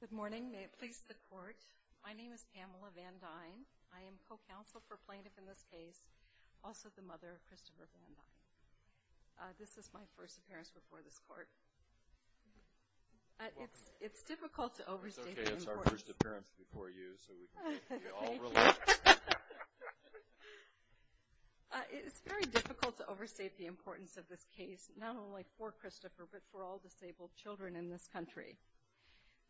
Good morning. May it please the Court, my name is Pamela Van Duyn. I am co-counsel for plaintiff in this case, also the mother of Christopher Van Duyn. This is my first appearance before this Court. It's difficult to overstate the importance of this case, not only for Christopher, but for all disabled children in this country.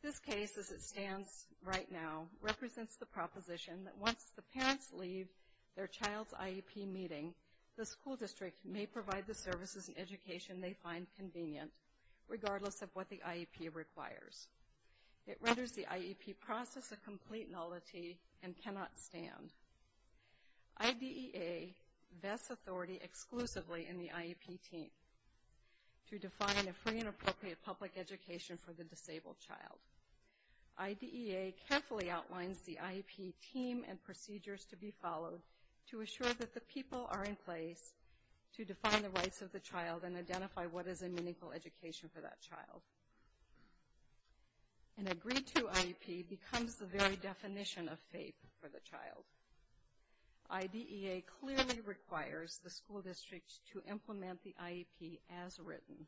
This case, as it stands right now, represents the proposition that once the parents leave their child's IEP meeting, the school district may provide the services and education they find convenient, regardless of what the IEP requires. It renders the IEP process a complete nullity and cannot stand. IDEA vests authority exclusively in the IEP team to define a free and appropriate public education for the disabled child. IDEA carefully outlines the IEP team and procedures to be followed to assure that the people are in place to define the rights of the child and identify what is a meaningful education for that child. An agreed-to IEP becomes the very definition of FAPE for the child. IDEA clearly requires the school districts to implement the IEP as written.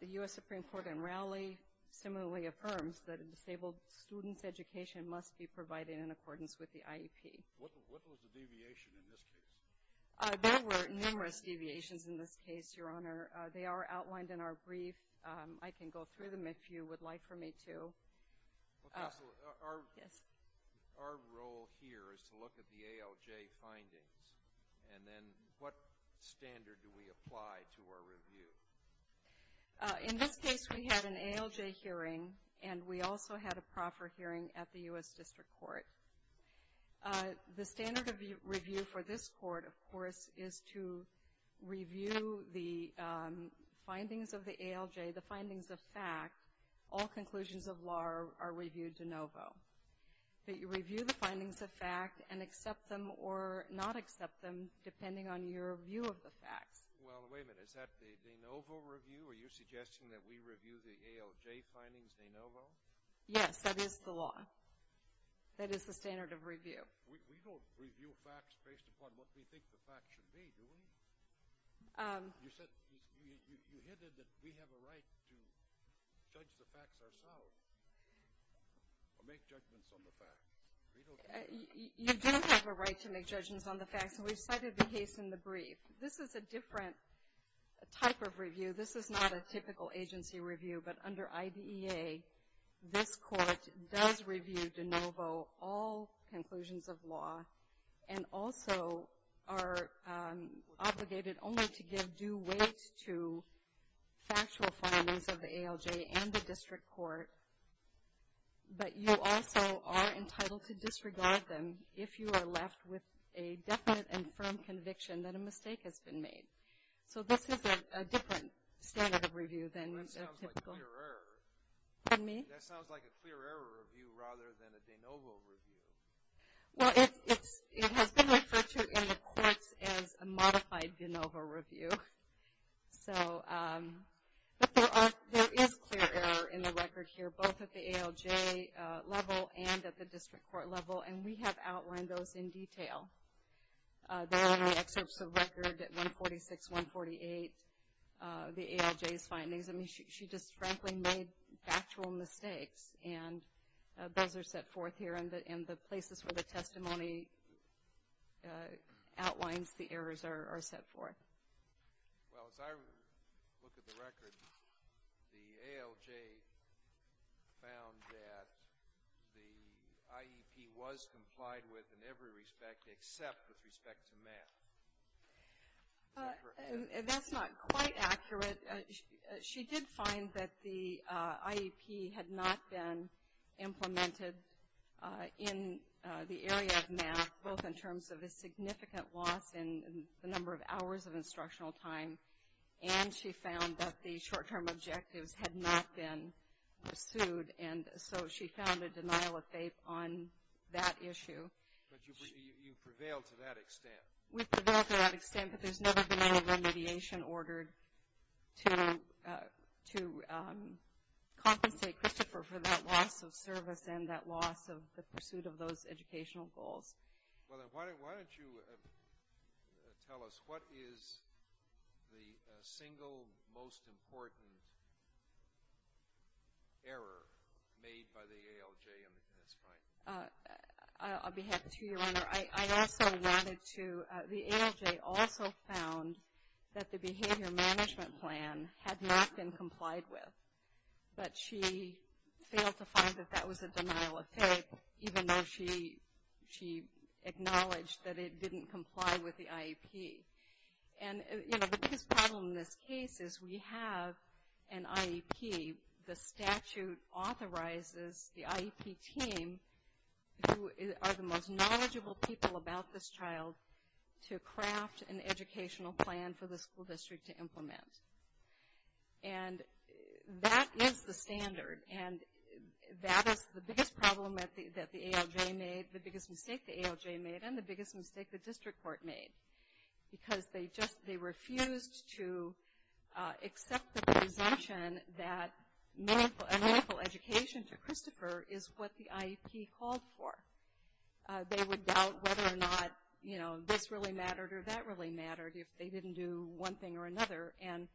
The U.S. Supreme Court in Raleigh similarly affirms that a disabled student's education must be provided in accordance with the IEP. What was the deviation in this case? There were numerous deviations in this case, Your Honor. They are outlined in our brief. I can go through them if you would like for me to. Our role here is to look at the ALJ findings, and then what standard do we apply to our review? In this case, we had an ALJ hearing, and we also had a proffer hearing at the U.S. District Court. The standard of review for this court, of course, is to review the findings of the ALJ, the findings of fact. All conclusions of law are reviewed de novo. But you review the findings of fact and accept them or not accept them, depending on your view of the facts. Well, wait a minute. Is that the de novo review? Are you suggesting that we review the ALJ findings de novo? Yes, that is the law. That is the standard of review. We don't review facts based upon what we think the facts should be, do we? You said, you hinted that we have a right to judge the facts ourselves or make judgments on the facts. You don't have a right to make judgments on the facts, and we've cited the case in the brief. This is a different type of review. This is not a typical agency review, but under IDEA, this court does review de novo all conclusions of law and also are obligated only to give due weight to factual findings of the ALJ and the District Court. But you also are entitled to disregard them if you are left with a definite and firm conviction that a mistake has been made. So this is a different standard of review than a typical. That sounds like clear error. Pardon me? That sounds like a clear error review rather than a de novo review. Well, it has been referred to in the courts as a modified de novo review. But there is clear error in the record here, both at the ALJ level and at the District Court level, and we have outlined those in detail there in the excerpts of record at 146, 148, the ALJ's findings. I mean, she just frankly made factual mistakes, and those are set forth here. And the places where the testimony outlines the errors are set forth. Well, as I look at the record, the ALJ found that the IEP was complied with in every respect except with respect to math. That's not quite accurate. She did find that the IEP had not been implemented in the area of math, both in terms of a significant loss in the number of hours of instructional time, and she found that the short-term objectives had not been pursued. And so she found a denial of faith on that issue. But you prevailed to that extent. We prevailed to that extent, but there's never been any remediation ordered to compensate Christopher for that loss of service and that loss of the pursuit of those educational goals. Well, why don't you tell us what is the single most important error made by the ALJ in this case? Sure. I also wanted to, the ALJ also found that the behavior management plan had not been complied with. But she failed to find that that was a denial of faith, even though she acknowledged that it didn't comply with the IEP. And, you know, the biggest problem in this case is we have an IEP. The statute authorizes the IEP team, who are the most knowledgeable people about this child, to craft an educational plan for the school district to implement. And that is the standard, and that is the biggest problem that the ALJ made, the biggest mistake the ALJ made, and the biggest mistake the district court made. Because they just, they refused to accept the presumption that a meaningful education to Christopher is what the IEP called for. They would doubt whether or not, you know, this really mattered or that really mattered if they didn't do one thing or another. And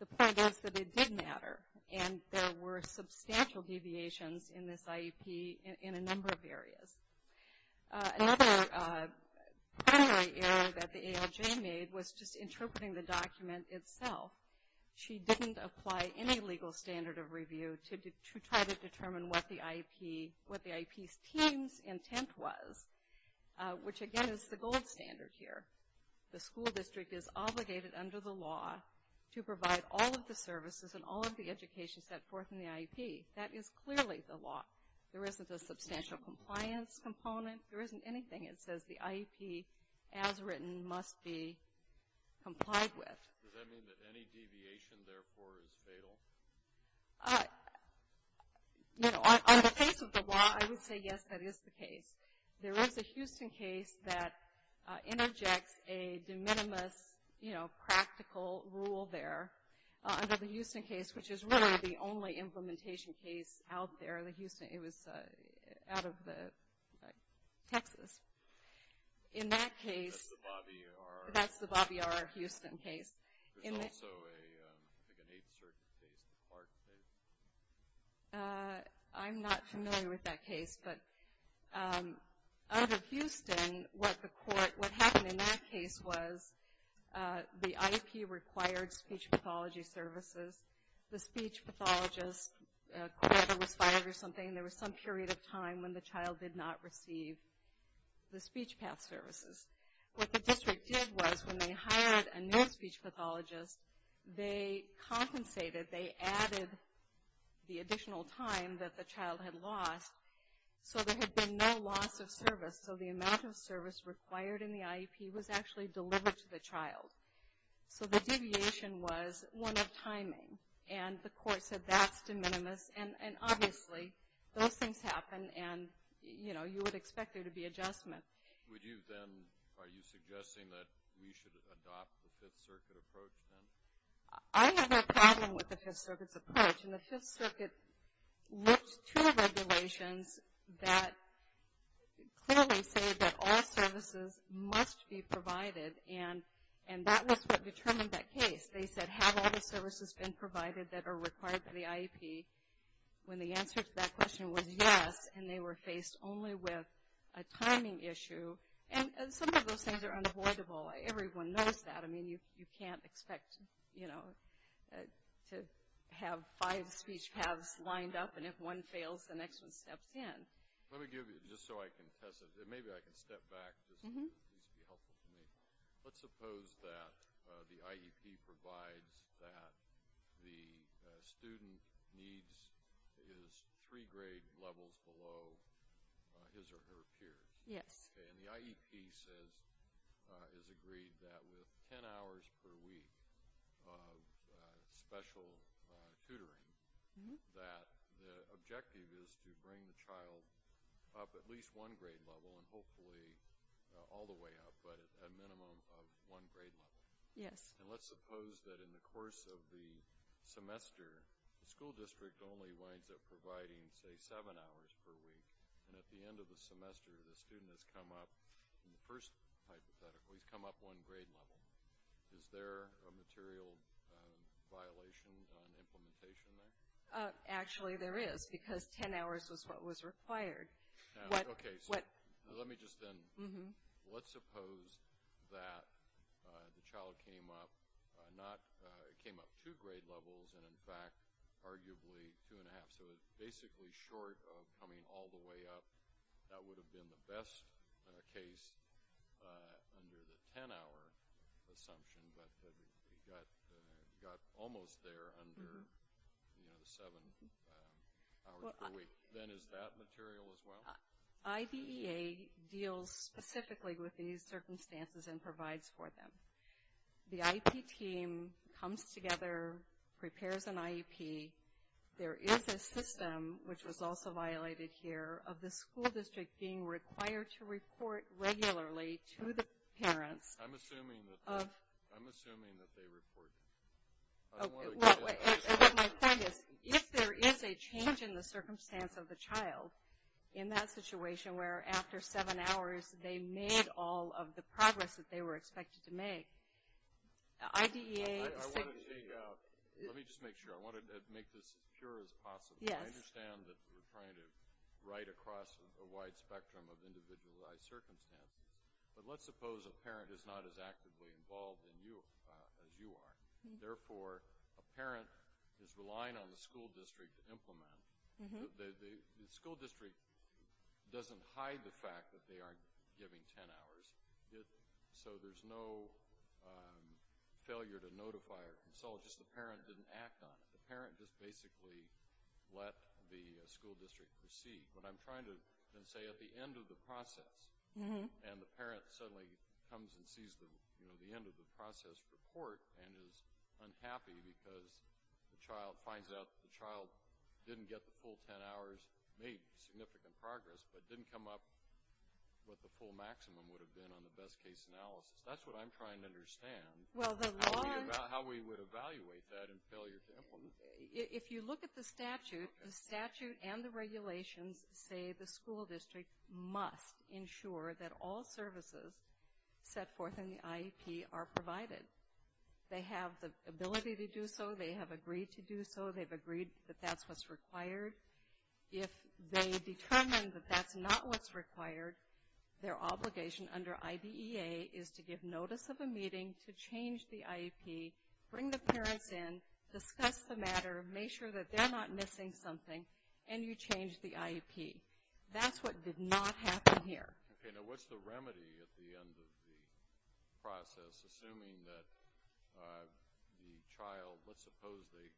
the point is that it did matter, and there were substantial deviations in this IEP in a number of areas. Another error that the ALJ made was just interpreting the document itself. She didn't apply any legal standard of review to try to determine what the IEP's team's intent was, which, again, is the gold standard here. The school district is obligated under the law to provide all of the services and all of the education set forth in the IEP. That is clearly the law. There isn't a substantial compliance component. There isn't anything that says the IEP, as written, must be complied with. Does that mean that any deviation, therefore, is fatal? You know, on the face of the law, I would say, yes, that is the case. There is a Houston case that interjects a de minimis, you know, practical rule there. Under the Houston case, which is really the only implementation case out there in Houston. It was out of Texas. In that case, that's the Bobby R. Houston case. There's also, I think, an Eighth Circuit case, the Clark case. I'm not familiar with that case. But out of Houston, what happened in that case was the IEP required speech pathology services. The speech pathologist was fired or something. There was some period of time when the child did not receive the speech path services. What the district did was, when they hired a new speech pathologist, they compensated. They added the additional time that the child had lost. So there had been no loss of service. So the amount of service required in the IEP was actually delivered to the child. So the deviation was one of timing. And the court said that's de minimis. And obviously, those things happen, and, you know, you would expect there to be adjustment. Would you then, are you suggesting that we should adopt the Fifth Circuit approach then? I have a problem with the Fifth Circuit's approach. And the Fifth Circuit looked to regulations that clearly say that all services must be provided. And that was what determined that case. They said, have all the services been provided that are required for the IEP? When the answer to that question was yes, and they were faced only with a timing issue. And some of those things are unavoidable. Everyone knows that. I mean, you can't expect, you know, to have five speech paths lined up. And if one fails, the next one steps in. Let me give you, just so I can test it, maybe I can step back. This would be helpful to me. Let's suppose that the IEP provides that the student needs his three grade levels below his or her peers. Yes. Okay. And the IEP says, is agreed that with ten hours per week of special tutoring, that the objective is to bring the child up at least one grade level and hopefully all the way up, but a minimum of one grade level. Yes. And let's suppose that in the course of the semester, the school district only winds up providing, say, seven hours per week. And at the end of the semester, the student has come up, in the first hypothetical, he's come up one grade level. Is there a material violation on implementation there? Actually, there is, because ten hours was what was required. Okay, so let me just then, let's suppose that the child came up two grade levels and, in fact, arguably two and a half. So it's basically short of coming all the way up. That would have been the best case under the ten-hour assumption, but it got almost there under the seven hours per week. Then is that material as well? IDEA deals specifically with these circumstances and provides for them. The IEP team comes together, prepares an IEP. There is a system, which was also violated here, of the school district being required to report regularly to the parents. I'm assuming that they report. My point is, if there is a change in the circumstance of the child in that situation where after seven hours they made all of the progress that they were expected to make, IDEA. Let me just make sure. I want to make this as pure as possible. I understand that we're trying to write across a wide spectrum of individualized circumstances, but let's suppose a parent is not as actively involved as you are. Therefore, a parent is relying on the school district to implement. The school district doesn't hide the fact that they aren't giving ten hours, so there's no failure to notify or consult. Just the parent didn't act on it. The parent just basically let the school district proceed. What I'm trying to then say, at the end of the process, and the parent suddenly comes and sees the end of the process report and is unhappy because the child finds out that the child didn't get the full ten hours, made significant progress, but didn't come up with the full maximum would have been on the best case analysis. That's what I'm trying to understand. How we would evaluate that in failure to implement. If you look at the statute, the statute and the regulations say the school district must ensure that all services set forth in the IEP are provided. They have the ability to do so. They have agreed to do so. They've agreed that that's what's required. If they determine that that's not what's required, their obligation under IDEA is to give notice of a meeting to change the IEP, bring the parents in, discuss the matter, make sure that they're not missing something, and you change the IEP. That's what did not happen here. Okay. Now, what's the remedy at the end of the process, assuming that the child, let's suppose they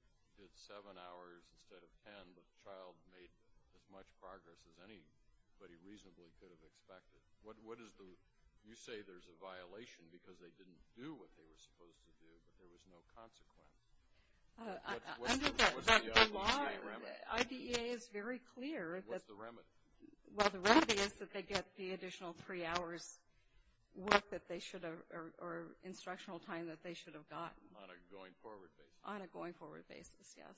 did seven hours instead of ten, but the child made as much progress as anybody reasonably could have expected. What is the, you say there's a violation because they didn't do what they were supposed to do, but there was no consequence. Under the law, IDEA is very clear. What's the remedy? Well, the remedy is that they get the additional three hours worth that they should have or instructional time that they should have gotten. On a going forward basis. On a going forward basis, yes.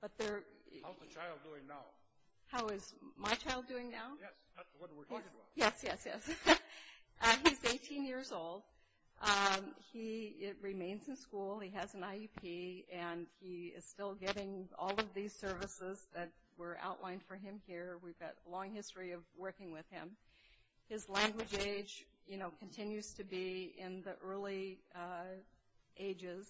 How's the child doing now? How is my child doing now? Yes, that's what we're talking about. Yes, yes, yes. He's 18 years old. He remains in school. He has an IEP, and he is still getting all of these services that were outlined for him here. We've got a long history of working with him. His language age, you know, continues to be in the early ages.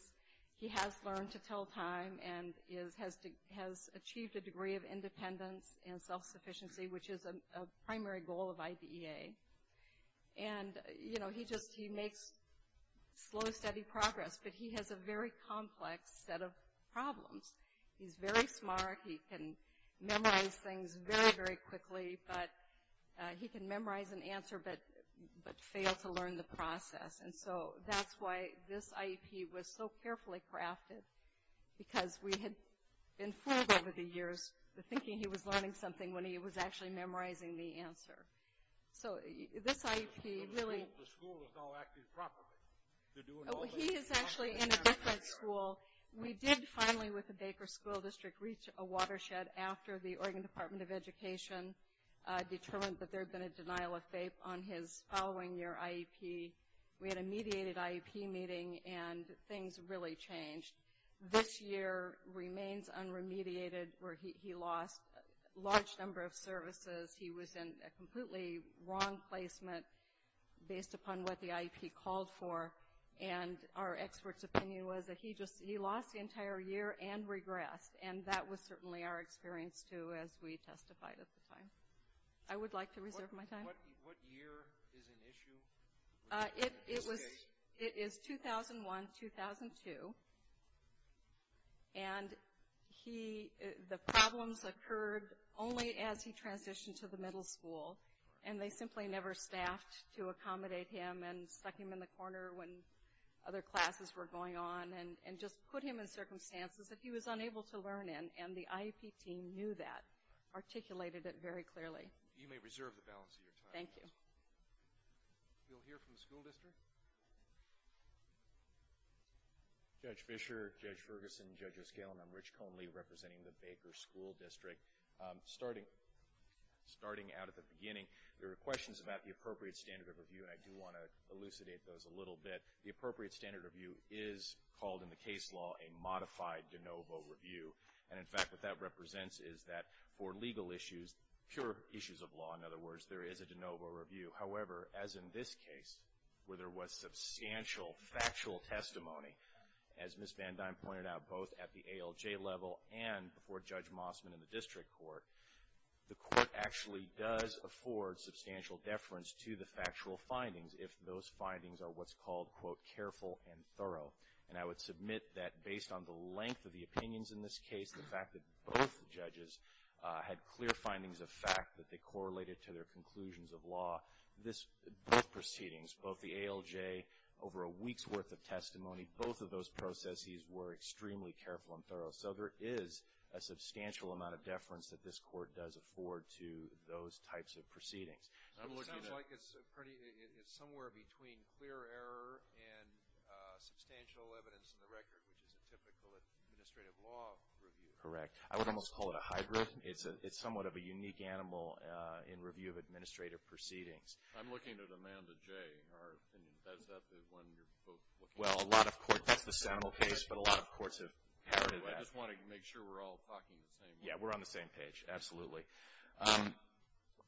He has learned to tell time and has achieved a degree of independence and self-sufficiency, which is a primary goal of IDEA. And, you know, he just, he makes slow, steady progress, but he has a very complex set of problems. He's very smart. He can memorize things very, very quickly, but he can memorize an answer but fail to learn the process. And so that's why this IEP was so carefully crafted, because we had been fooled over the years, thinking he was learning something when he was actually memorizing the answer. So this IEP really. The school is now acting properly. He is actually in a different school. We did finally, with the Baker School District, reach a watershed after the Oregon Department of Education determined that there had been a denial of FAPE on his following year IEP. We had a mediated IEP meeting, and things really changed. This year remains unremediated where he lost a large number of services. He was in a completely wrong placement based upon what the IEP called for, and our expert's opinion was that he lost the entire year and regressed, and that was certainly our experience, too, as we testified at the time. I would like to reserve my time. What year is in issue? It is 2001-2002, and the problems occurred only as he transitioned to the middle school, and they simply never staffed to accommodate him and stuck him in the corner when other classes were going on and just put him in circumstances that he was unable to learn in, and the IEP team knew that, articulated it very clearly. You may reserve the balance of your time. Thank you. We'll hear from the school district. Judge Fischer, Judge Ferguson, Judge Oscalin, I'm Rich Conley, representing the Baker School District. Starting out at the beginning, there were questions about the appropriate standard of review, and I do want to elucidate those a little bit. The appropriate standard of review is called in the case law a modified de novo review, and in fact what that represents is that for legal issues, pure issues of law, in other words, there is a de novo review. However, as in this case, where there was substantial factual testimony, as Ms. Van Dine pointed out, both at the ALJ level and before Judge Mossman in the district court, the court actually does afford substantial deference to the factual findings if those findings are what's called, quote, careful and thorough. And I would submit that based on the length of the opinions in this case, the fact that both judges had clear findings of fact that they correlated to their conclusions of law, both proceedings, both the ALJ, over a week's worth of testimony, both of those processes were extremely careful and thorough. So there is a substantial amount of deference that this court does afford to those types of proceedings. It sounds like it's somewhere between clear error and substantial evidence in the record, which is a typical administrative law review. Correct. I would almost call it a hybrid. It's somewhat of a unique animal in review of administrative proceedings. I'm looking at Amanda J. Is that the one you're both looking at? Well, a lot of courts, that's the Semel case, but a lot of courts have inherited that. I just want to make sure we're all talking the same page. Yeah, we're on the same page. Absolutely.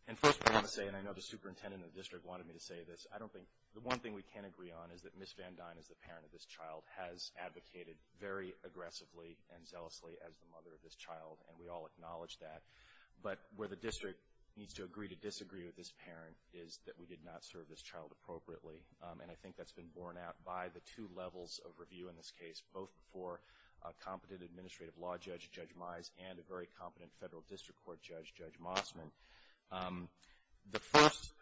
And first I want to say, and I know the superintendent of the district wanted me to say this, I don't think, the one thing we can agree on is that Ms. Van Dine, as the parent of this child, has advocated very aggressively and zealously as the mother of this child, and we all acknowledge that. But where the district needs to agree to disagree with this parent is that we did not serve this child appropriately. And I think that's been borne out by the two levels of review in this case, both for a competent administrative law judge, Judge Mize, and a very competent federal district court judge, Judge Mossman. The first,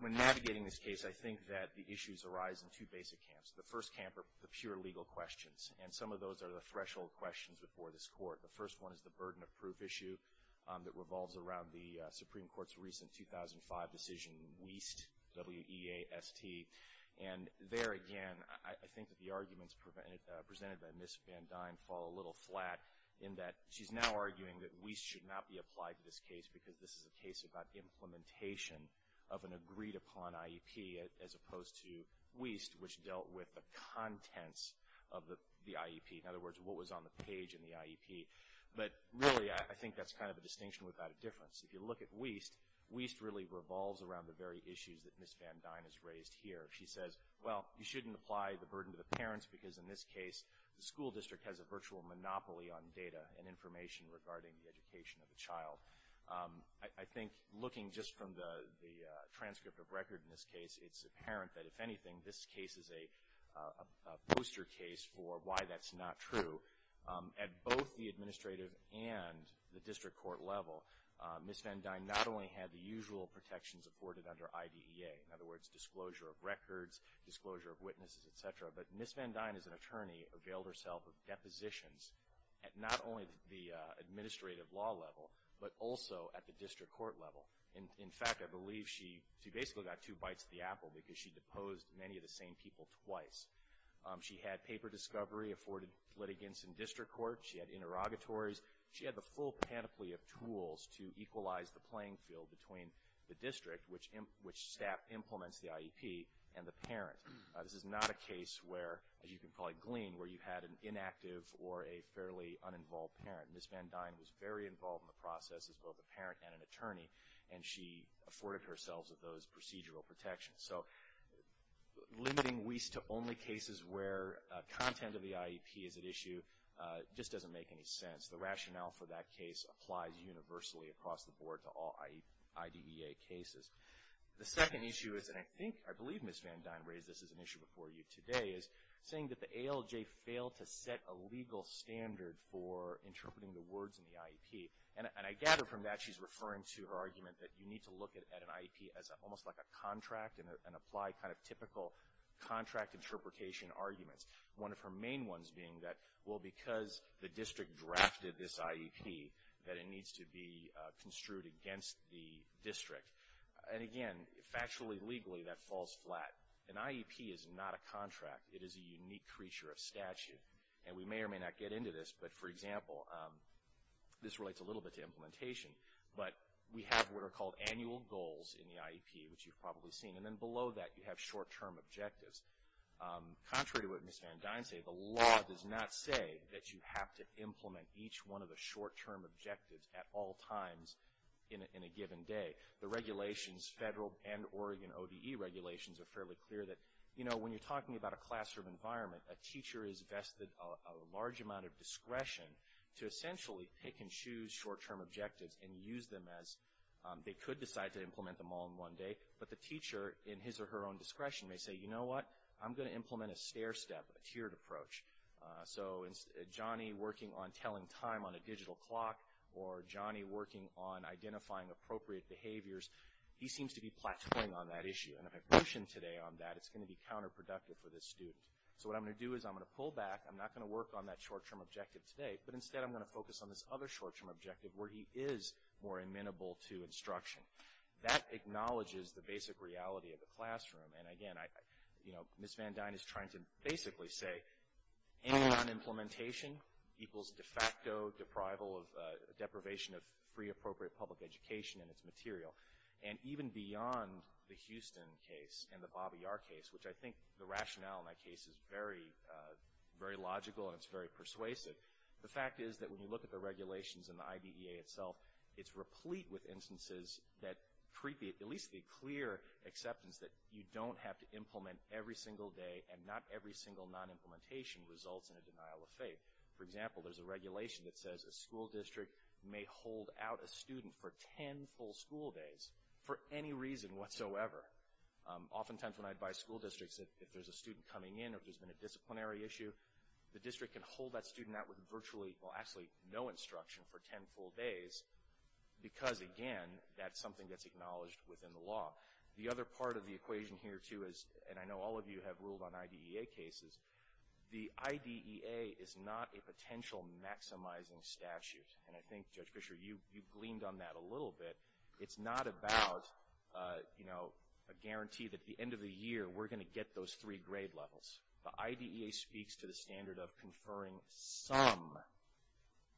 when navigating this case, I think that the issues arise in two basic camps. The first camp are the pure legal questions, and some of those are the threshold questions before this court. The first one is the burden of proof issue that revolves around the Supreme Court's recent 2005 decision, WEAST, W-E-A-S-T. And there, again, I think that the arguments presented by Ms. Van Dine fall a little flat in that she's now arguing that WEAST should not be applied to this case because this is a case about implementation of an agreed-upon IEP, as opposed to WEAST, which dealt with the contents of the IEP. In other words, what was on the page in the IEP. But really, I think that's kind of a distinction without a difference. If you look at WEAST, WEAST really revolves around the very issues that Ms. Van Dine has raised here. She says, well, you shouldn't apply the burden to the parents because in this case, the school district has a virtual monopoly on data and information regarding the education of a child. I think looking just from the transcript of record in this case, it's apparent that, if anything, this case is a booster case for why that's not true. At both the administrative and the district court level, Ms. Van Dine not only had the usual protections afforded under IDEA, in other words, disclosure of records, disclosure of witnesses, et cetera, but Ms. Van Dine as an attorney availed herself of depositions at not only the administrative law level, but also at the district court level. In fact, I believe she basically got two bites of the apple because she deposed many of the same people twice. She had paper discovery afforded litigants in district court. She had interrogatories. She had the full panoply of tools to equalize the playing field between the district, which staff implements the IEP, and the parent. This is not a case where, as you can probably glean, where you had an inactive or a fairly uninvolved parent. Ms. Van Dine was very involved in the process as both a parent and an attorney, and she afforded herself of those procedural protections. So limiting WEIS to only cases where content of the IEP is at issue just doesn't make any sense. The rationale for that case applies universally across the board to all IDEA cases. The second issue is, and I think, I believe Ms. Van Dine raised this as an issue before you today, is saying that the ALJ failed to set a legal standard for interpreting the words in the IEP. And I gather from that she's referring to her argument that you need to look at an IEP as almost like a contract, and apply kind of typical contract interpretation arguments. One of her main ones being that, well, because the district drafted this IEP, that it needs to be construed against the district. And again, factually, legally, that falls flat. An IEP is not a contract. It is a unique creature of statute. And we may or may not get into this, but, for example, this relates a little bit to implementation, but we have what are called annual goals in the IEP, which you've probably seen. And then below that you have short-term objectives. Contrary to what Ms. Van Dine said, the law does not say that you have to implement each one of the short-term objectives at all times in a given day. The regulations, federal and Oregon ODE regulations, are fairly clear that, you know, when you're talking about a classroom environment, a teacher is vested a large amount of discretion to essentially pick and choose short-term objectives and use them as they could decide to implement them all in one day. But the teacher, in his or her own discretion, may say, you know what? I'm going to implement a stair step, a tiered approach. So Johnny working on telling time on a digital clock or Johnny working on identifying appropriate behaviors, he seems to be plateauing on that issue. And if I push him today on that, it's going to be counterproductive for this student. So what I'm going to do is I'm going to pull back. I'm not going to work on that short-term objective today, but instead I'm going to focus on this other short-term objective where he is more amenable to instruction. That acknowledges the basic reality of the classroom. And, again, you know, Ms. Van Dyne is trying to basically say, any non-implementation equals de facto deprivation of free appropriate public education and its material. And even beyond the Houston case and the Bobby Yar case, which I think the rationale in that case is very logical and it's very persuasive, the fact is that when you look at the regulations and the IDEA itself, it's replete with instances that at least the clear acceptance that you don't have to implement every single day and not every single non-implementation results in a denial of faith. For example, there's a regulation that says a school district may hold out a student for ten full school days for any reason whatsoever. Oftentimes when I advise school districts that if there's a student coming in or if there's been a disciplinary issue, the district can hold that student out with virtually, well, actually no instruction for ten full days because, again, that's something that's acknowledged within the law. The other part of the equation here, too, is, and I know all of you have ruled on IDEA cases, the IDEA is not a potential maximizing statute. And I think, Judge Fisher, you gleaned on that a little bit. It's not about, you know, a guarantee that at the end of the year we're going to get those three grade levels. The IDEA speaks to the standard of conferring some,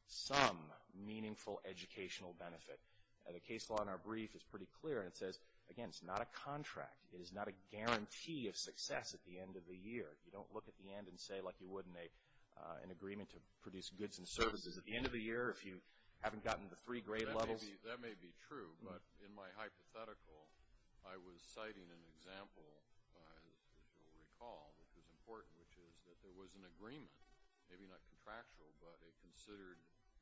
some meaningful educational benefit. The case law in our brief is pretty clear, and it says, again, it's not a contract. It is not a guarantee of success at the end of the year. You don't look at the end and say like you would in an agreement to produce goods and services at the end of the year if you haven't gotten the three grade levels. That may be true, but in my hypothetical I was citing an example, as you'll recall, which is important, which is that there was an agreement, maybe not contractual, but it considered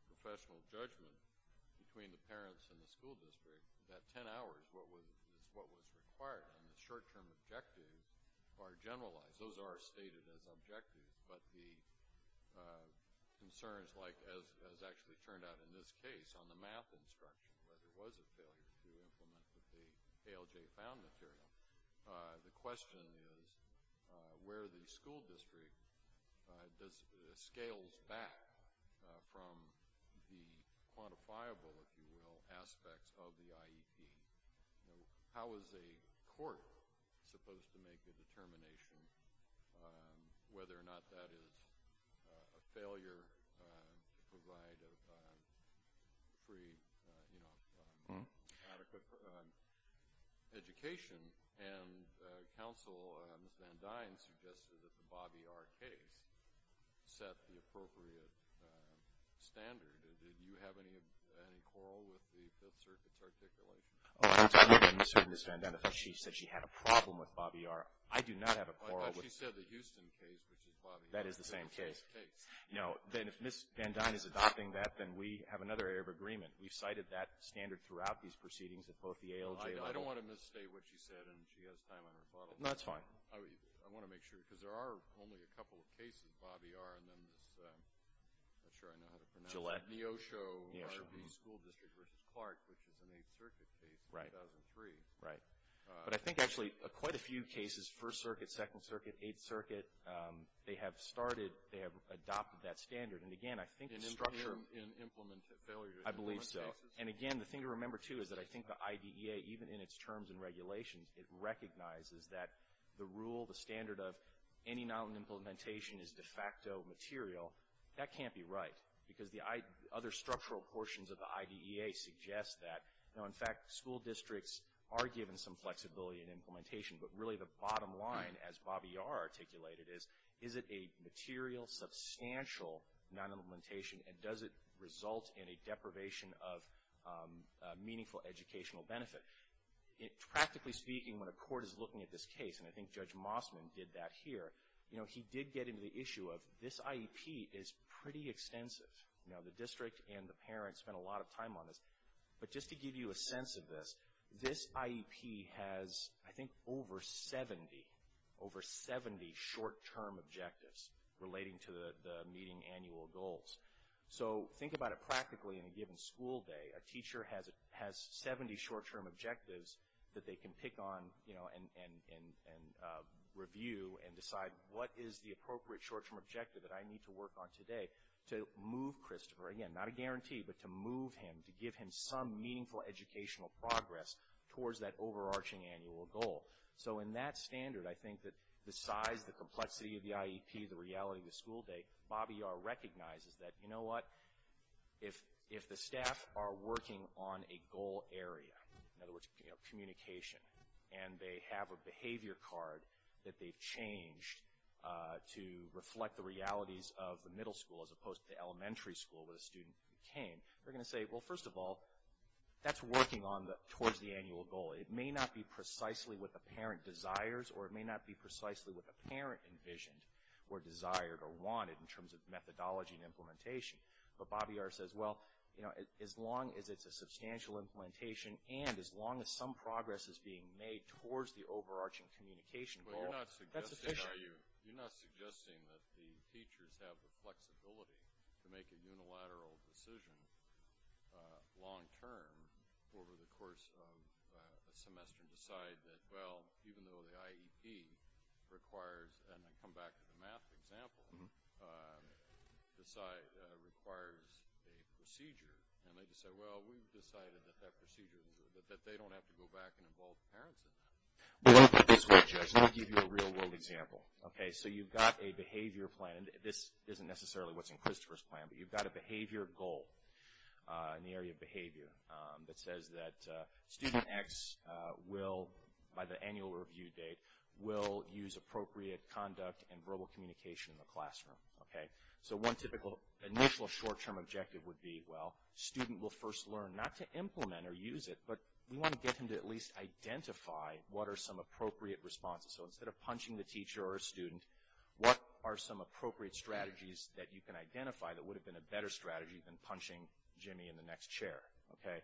professional judgment between the parents and the school district that ten hours is what was required. And the short-term objectives are generalized. Those are stated as objectives, but the concerns like, as actually turned out in this case, on the math instruction, whether it was a failure to implement what the ALJ found material, the question is where the school district scales back from the quantifiable, if you will, aspects of the IEP. How is a court supposed to make a determination whether or not that is a failure to provide a free, adequate education? And counsel, Ms. Van Dine, suggested that the Bobby R. case set the appropriate standard. Did you have any quarrel with the Fifth Circuit's articulation? Oh, I don't have any concern, Ms. Van Dine. She said she had a problem with Bobby R. I do not have a quarrel. I thought she said the Houston case, which is Bobby R. That is the same case. No. Then if Ms. Van Dine is adopting that, then we have another area of agreement. We've cited that standard throughout these proceedings at both the ALJ level. I don't want to misstate what she said, and she has time on her buttocks. No, that's fine. I want to make sure, because there are only a couple of cases, Bobby R. and then this, I'm not sure I know how to pronounce it. Neosho School District v. Clark, which is an Eighth Circuit case, 2003. Right. But I think, actually, quite a few cases, First Circuit, Second Circuit, Eighth Circuit, they have started, they have adopted that standard. And, again, I think the structure. In implement failures. I believe so. And, again, the thing to remember, too, is that I think the IDEA, even in its terms and regulations, it recognizes that the rule, the standard of any non-implementation is de facto material. That can't be right, because the other structural portions of the IDEA suggest that. Now, in fact, school districts are given some flexibility in implementation, but really the bottom line, as Bobby R. articulated, is, is it a material, substantial non-implementation, and does it result in a deprivation of meaningful educational benefit? Practically speaking, when a court is looking at this case, and I think Judge Mossman did that here, you know, he did get into the issue of this IEP is pretty extensive. Now, the district and the parents spent a lot of time on this, but just to give you a sense of this, this IEP has, I think, over 70, over 70 short-term objectives relating to the meeting annual goals. So think about it practically in a given school day. A teacher has 70 short-term objectives that they can pick on, you know, and review and decide what is the appropriate short-term objective that I need to work on today to move Christopher, again, not a guarantee, but to move him, to give him some meaningful educational progress towards that overarching annual goal. So in that standard, I think that the size, the complexity of the IEP, the reality of the school day, what Bobby Yar recognizes is that, you know what, if the staff are working on a goal area, in other words, communication, and they have a behavior card that they've changed to reflect the realities of the middle school as opposed to the elementary school where the student came, they're going to say, well, first of all, that's working towards the annual goal. It may not be precisely what the parent desires, or it may not be precisely what the parent envisioned or desired or wanted in terms of methodology and implementation. But Bobby Yar says, well, you know, as long as it's a substantial implementation and as long as some progress is being made towards the overarching communication goal, that's sufficient. You're not suggesting that the teachers have the flexibility to make a unilateral decision long-term over the course of a semester and decide that, well, even though the IEP requires, and I come back to the math example, requires a procedure. And they just say, well, we've decided that that procedure, that they don't have to go back and involve parents in that. Let me put it this way, Judge. Let me give you a real-world example. Okay, so you've got a behavior plan, and this isn't necessarily what's in Christopher's plan, but you've got a behavior goal in the area of behavior that says that student X will, by the annual review date, will use appropriate conduct and verbal communication in the classroom. Okay? So one typical initial short-term objective would be, well, student will first learn not to implement or use it, but we want to get him to at least identify what are some appropriate responses. So instead of punching the teacher or a student, what are some appropriate strategies that you can identify that would have been a better strategy than punching Jimmy in the next chair? Okay?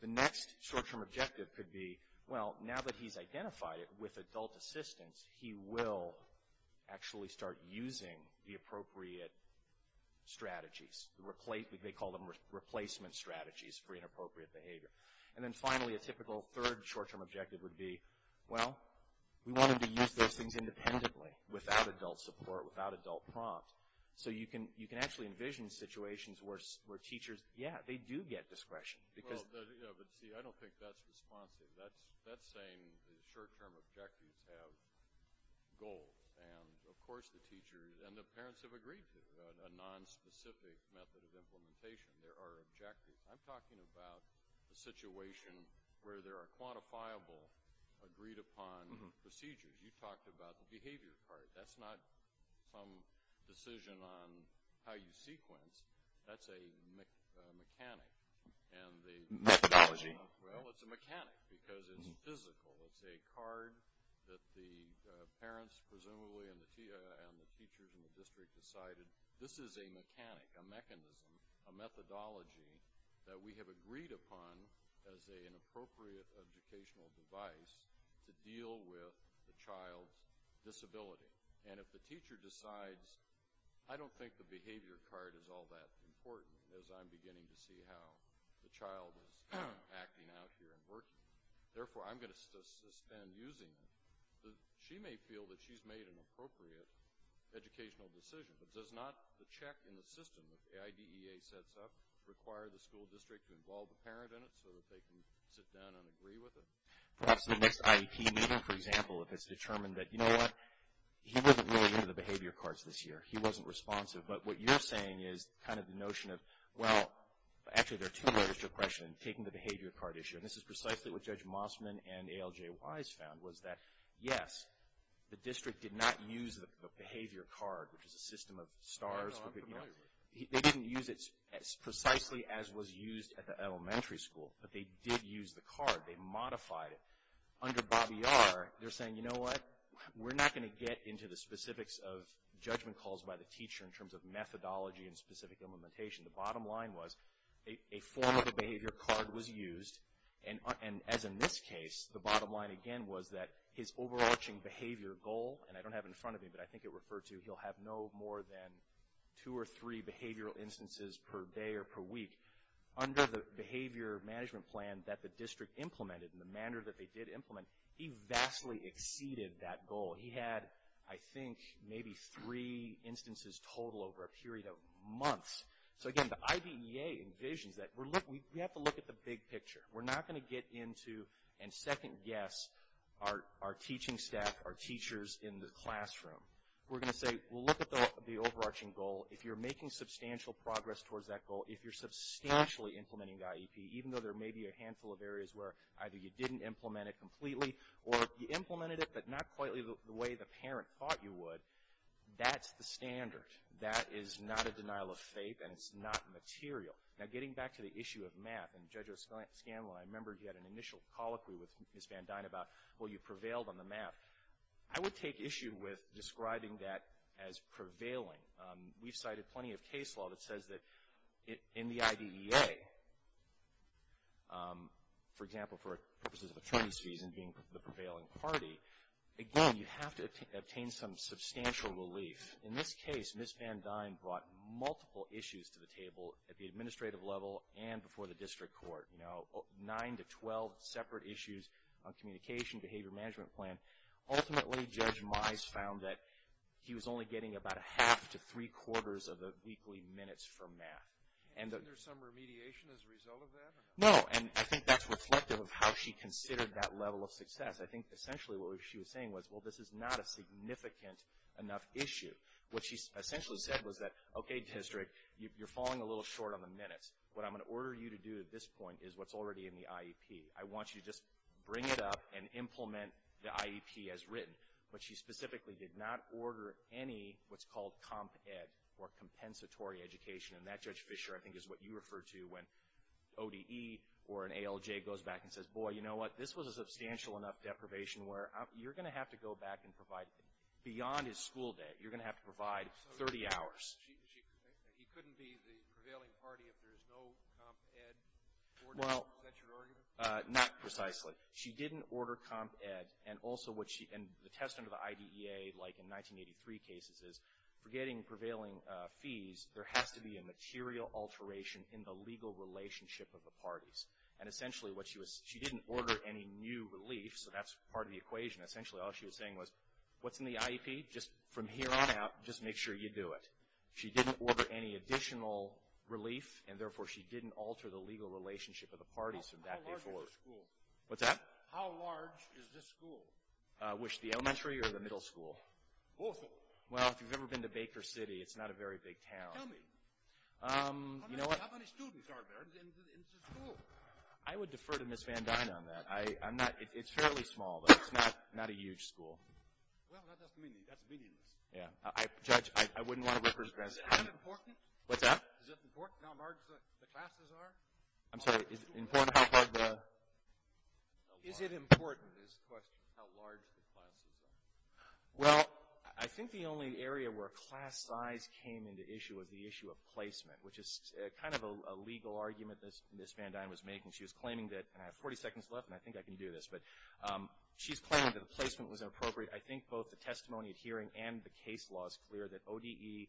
The next short-term objective could be, well, now that he's identified it with adult assistance, he will actually start using the appropriate strategies. They call them replacement strategies for inappropriate behavior. And then finally, a typical third short-term objective would be, well, we want him to use those things independently, without adult support, without adult prompt. So you can actually envision situations where teachers, yeah, they do get discretion. Well, but see, I don't think that's responsive. That's saying the short-term objectives have goals. And, of course, the teachers and the parents have agreed to a nonspecific method of implementation. There are objectives. I'm talking about the situation where there are quantifiable, agreed-upon procedures. You talked about the behavior part. That's not some decision on how you sequence. That's a mechanic. Methodology. Well, it's a mechanic because it's physical. It's a card that the parents presumably and the teachers in the district decided, this is a mechanic, a mechanism, a methodology that we have agreed upon as an appropriate educational device to deal with the child's disability. And if the teacher decides, I don't think the behavior card is all that important, as I'm beginning to see how the child is acting out here and working. Therefore, I'm going to suspend using it. She may feel that she's made an appropriate educational decision, but does not the check in the system that the IDEA sets up require the school district to involve the parent in it so that they can sit down and agree with it? Perhaps the next IEP meeting, for example, if it's determined that, you know what, he wasn't really into the behavior cards this year. He wasn't responsive. But what you're saying is kind of the notion of, well, actually, there are two layers to your question. Taking the behavior card issue, and this is precisely what Judge Mossman and ALJ Wise found, was that, yes, the district did not use the behavior card, which is a system of stars. They didn't use it precisely as was used at the elementary school, but they did use the card. They modified it. Under Bobby R., they're saying, you know what, we're not going to get into the specifics of judgment calls by the teacher in terms of methodology and specific implementation. The bottom line was a form of the behavior card was used, and as in this case, the bottom line, again, was that his overarching behavior goal, and I don't have it in front of me, but I think it referred to he'll have no more than two or three behavioral instances per day or per week. Under the behavior management plan that the district implemented and the manner that they did implement, he vastly exceeded that goal. He had, I think, maybe three instances total over a period of months. So, again, the IBEA envisions that we have to look at the big picture. We're not going to get into and second guess our teaching staff, our teachers in the classroom. We're going to say, well, look at the overarching goal. If you're making substantial progress towards that goal, if you're substantially implementing IEP, even though there may be a handful of areas where either you didn't implement it completely or you implemented it, but not quite the way the parent thought you would, that's the standard. That is not a denial of faith, and it's not material. Now, getting back to the issue of MAP, and Judge O'Scanlan, I remember he had an initial colloquy with Ms. Van Dyne about, well, you prevailed on the MAP. I would take issue with describing that as prevailing. We've cited plenty of case law that says that in the IBEA, for example, for purposes of attorney's fees and being the prevailing party, again, you have to obtain some substantial relief. In this case, Ms. Van Dyne brought multiple issues to the table at the administrative level and before the district court. Nine to 12 separate issues on communication, behavior management plan. Ultimately, Judge Mize found that he was only getting about a half to three-quarters of the weekly minutes for MAP. And there's some remediation as a result of that? No, and I think that's reflective of how she considered that level of success. I think essentially what she was saying was, well, this is not a significant enough issue. What she essentially said was that, okay, district, you're falling a little short on the minutes. What I'm going to order you to do at this point is what's already in the IEP. I want you to just bring it up and implement the IEP as written. But she specifically did not order any what's called comp ed or compensatory education. And that, Judge Fischer, I think is what you refer to when ODE or an ALJ goes back and says, boy, you know what? This was a substantial enough deprivation where you're going to have to go back and provide, beyond his school day, you're going to have to provide 30 hours. He couldn't be the prevailing party if there's no comp ed? Well, not precisely. She didn't order comp ed. And also what she, and the test under the IDEA, like in 1983 cases, is for getting prevailing fees, there has to be a material alteration in the legal relationship of the parties. And essentially what she was, she didn't order any new relief, so that's part of the equation. Essentially all she was saying was, what's in the IEP? Just from here on out, just make sure you do it. She didn't order any additional relief, and therefore she didn't alter the legal relationship of the parties from that day forward. How large is the school? What's that? How large is this school? Which, the elementary or the middle school? Both of them. Well, if you've ever been to Baker City, it's not a very big town. Tell me. You know what? How many students are there in the school? I would defer to Ms. Van Dyne on that. I'm not, it's fairly small, but it's not a huge school. Well, that doesn't mean, that's meaningless. Yeah. Judge, I wouldn't want to represent. Is it that important? What's that? Is it important how large the classes are? I'm sorry, is it important how large the? Is it important is the question, how large the classes are? Well, I think the only area where class size came into issue was the issue of placement, which is kind of a legal argument that Ms. Van Dyne was making. She was claiming that, and I have 40 seconds left, and I think I can do this, but she's claiming that the placement was inappropriate. I think both the testimony at hearing and the case law is clear that ODE,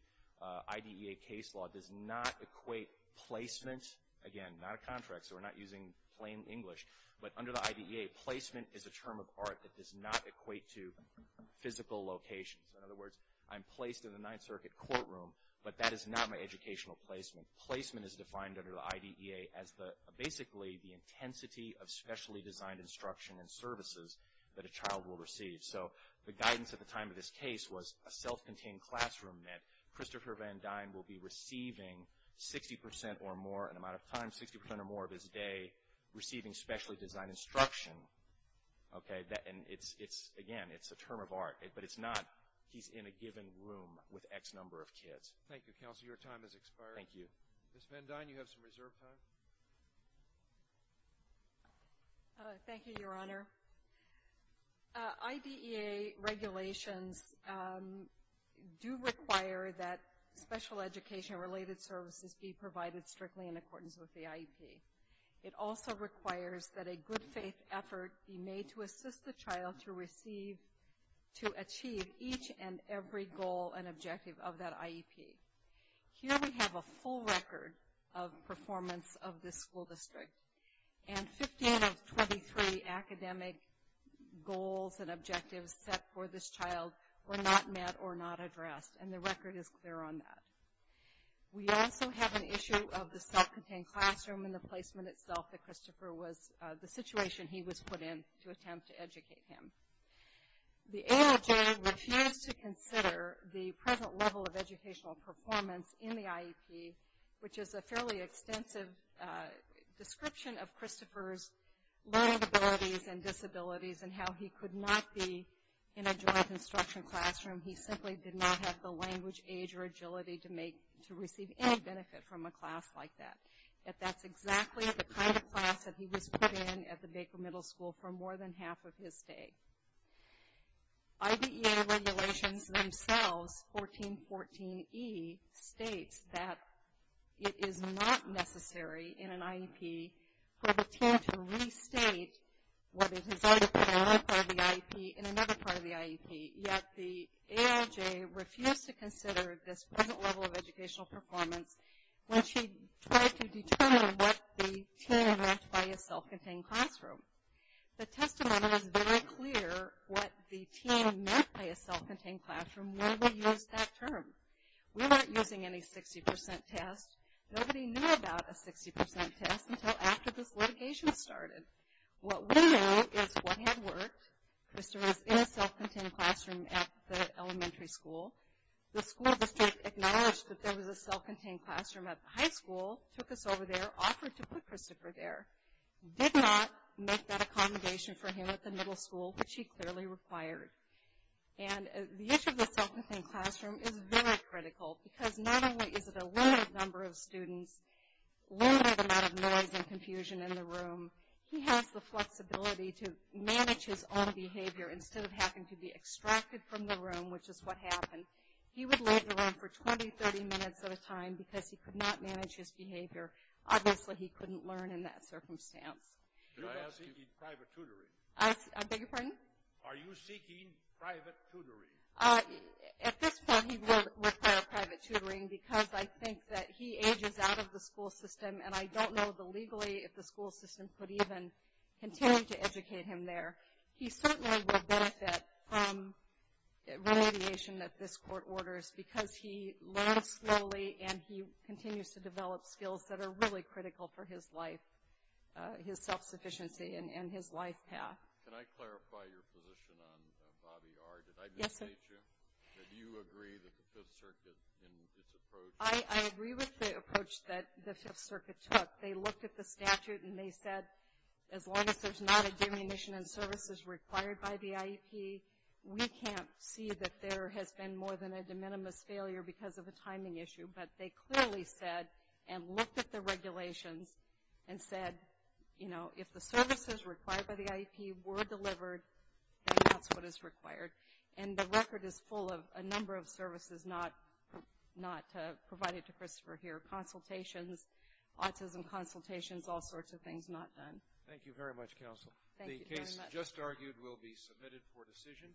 IDEA case law, does not equate placement. Again, not a contract, so we're not using plain English. But under the IDEA, placement is a term of art that does not equate to physical locations. In other words, I'm placed in a Ninth Circuit courtroom, but that is not my educational placement. Placement is defined under the IDEA as basically the intensity of specially designed instruction and services that a child will receive. So the guidance at the time of this case was a self-contained classroom meant Christopher Van Dyne will be receiving 60% or more an amount of time, 60% or more of his day receiving specially designed instruction. Okay? And it's, again, it's a term of art, but it's not he's in a given room with X number of kids. Thank you, Counselor. Your time has expired. Thank you. Ms. Van Dyne, you have some reserve time. Thank you, Your Honor. IDEA regulations do require that special education related services be provided strictly in accordance with the IEP. It also requires that a good faith effort be made to assist the child to receive, to achieve each and every goal and objective of that IEP. Here we have a full record of performance of this school district. And 15 of 23 academic goals and objectives set for this child were not met or not addressed, and the record is clear on that. We also have an issue of the self-contained classroom and the placement itself that Christopher was, the situation he was put in to attempt to educate him. The AOJ refused to consider the present level of educational performance in the IEP, which is a fairly extensive description of Christopher's learning abilities and disabilities and how he could not be in a joint instruction classroom. He simply did not have the language, age, or agility to receive any benefit from a class like that. That's exactly the kind of class that he was put in at the Baker Middle School for more than half of his stay. IBEA regulations themselves, 1414E, states that it is not necessary in an IEP for the teen to restate what it has already put in one part of the IEP in another part of the IEP, yet the AOJ refused to consider this present level of educational performance when she tried to determine what the teen had left by his self-contained classroom. The testimony was very clear what the teen meant by a self-contained classroom when we used that term. We weren't using any 60% tests. Nobody knew about a 60% test until after this litigation started. What we know is what had worked, Christopher was in a self-contained classroom at the elementary school. The school district acknowledged that there was a self-contained classroom at the high school, took us over there, offered to put Christopher there. Did not make that accommodation for him at the middle school, which he clearly required. And the issue of the self-contained classroom is very critical because not only is it a limited number of students, limited amount of noise and confusion in the room, he has the flexibility to manage his own behavior instead of having to be extracted from the room, which is what happened. He would leave the room for 20, 30 minutes at a time because he could not manage his behavior. Obviously, he couldn't learn in that circumstance. I beg your pardon? Are you seeking private tutoring? At this point, he will require private tutoring because I think that he ages out of the school system, and I don't know legally if the school system could even continue to educate him there. He certainly will benefit from remediation that this court orders because he learns slowly and he continues to develop skills that are really critical for his life, his self-sufficiency and his life path. Can I clarify your position on Bobby R.? Yes, sir. Did I misstate you? Did you agree with the Fifth Circuit in its approach? I agree with the approach that the Fifth Circuit took. They looked at the statute and they said as long as there's not a diminution in services required by the IEP, we can't see that there has been more than a de minimis failure because of a timing issue. But they clearly said and looked at the regulations and said, you know, if the services required by the IEP were delivered, then that's what is required. And the record is full of a number of services not provided to Christopher here, consultations, autism consultations, all sorts of things not done. Thank you very much, counsel. The case just argued will be submitted for decision.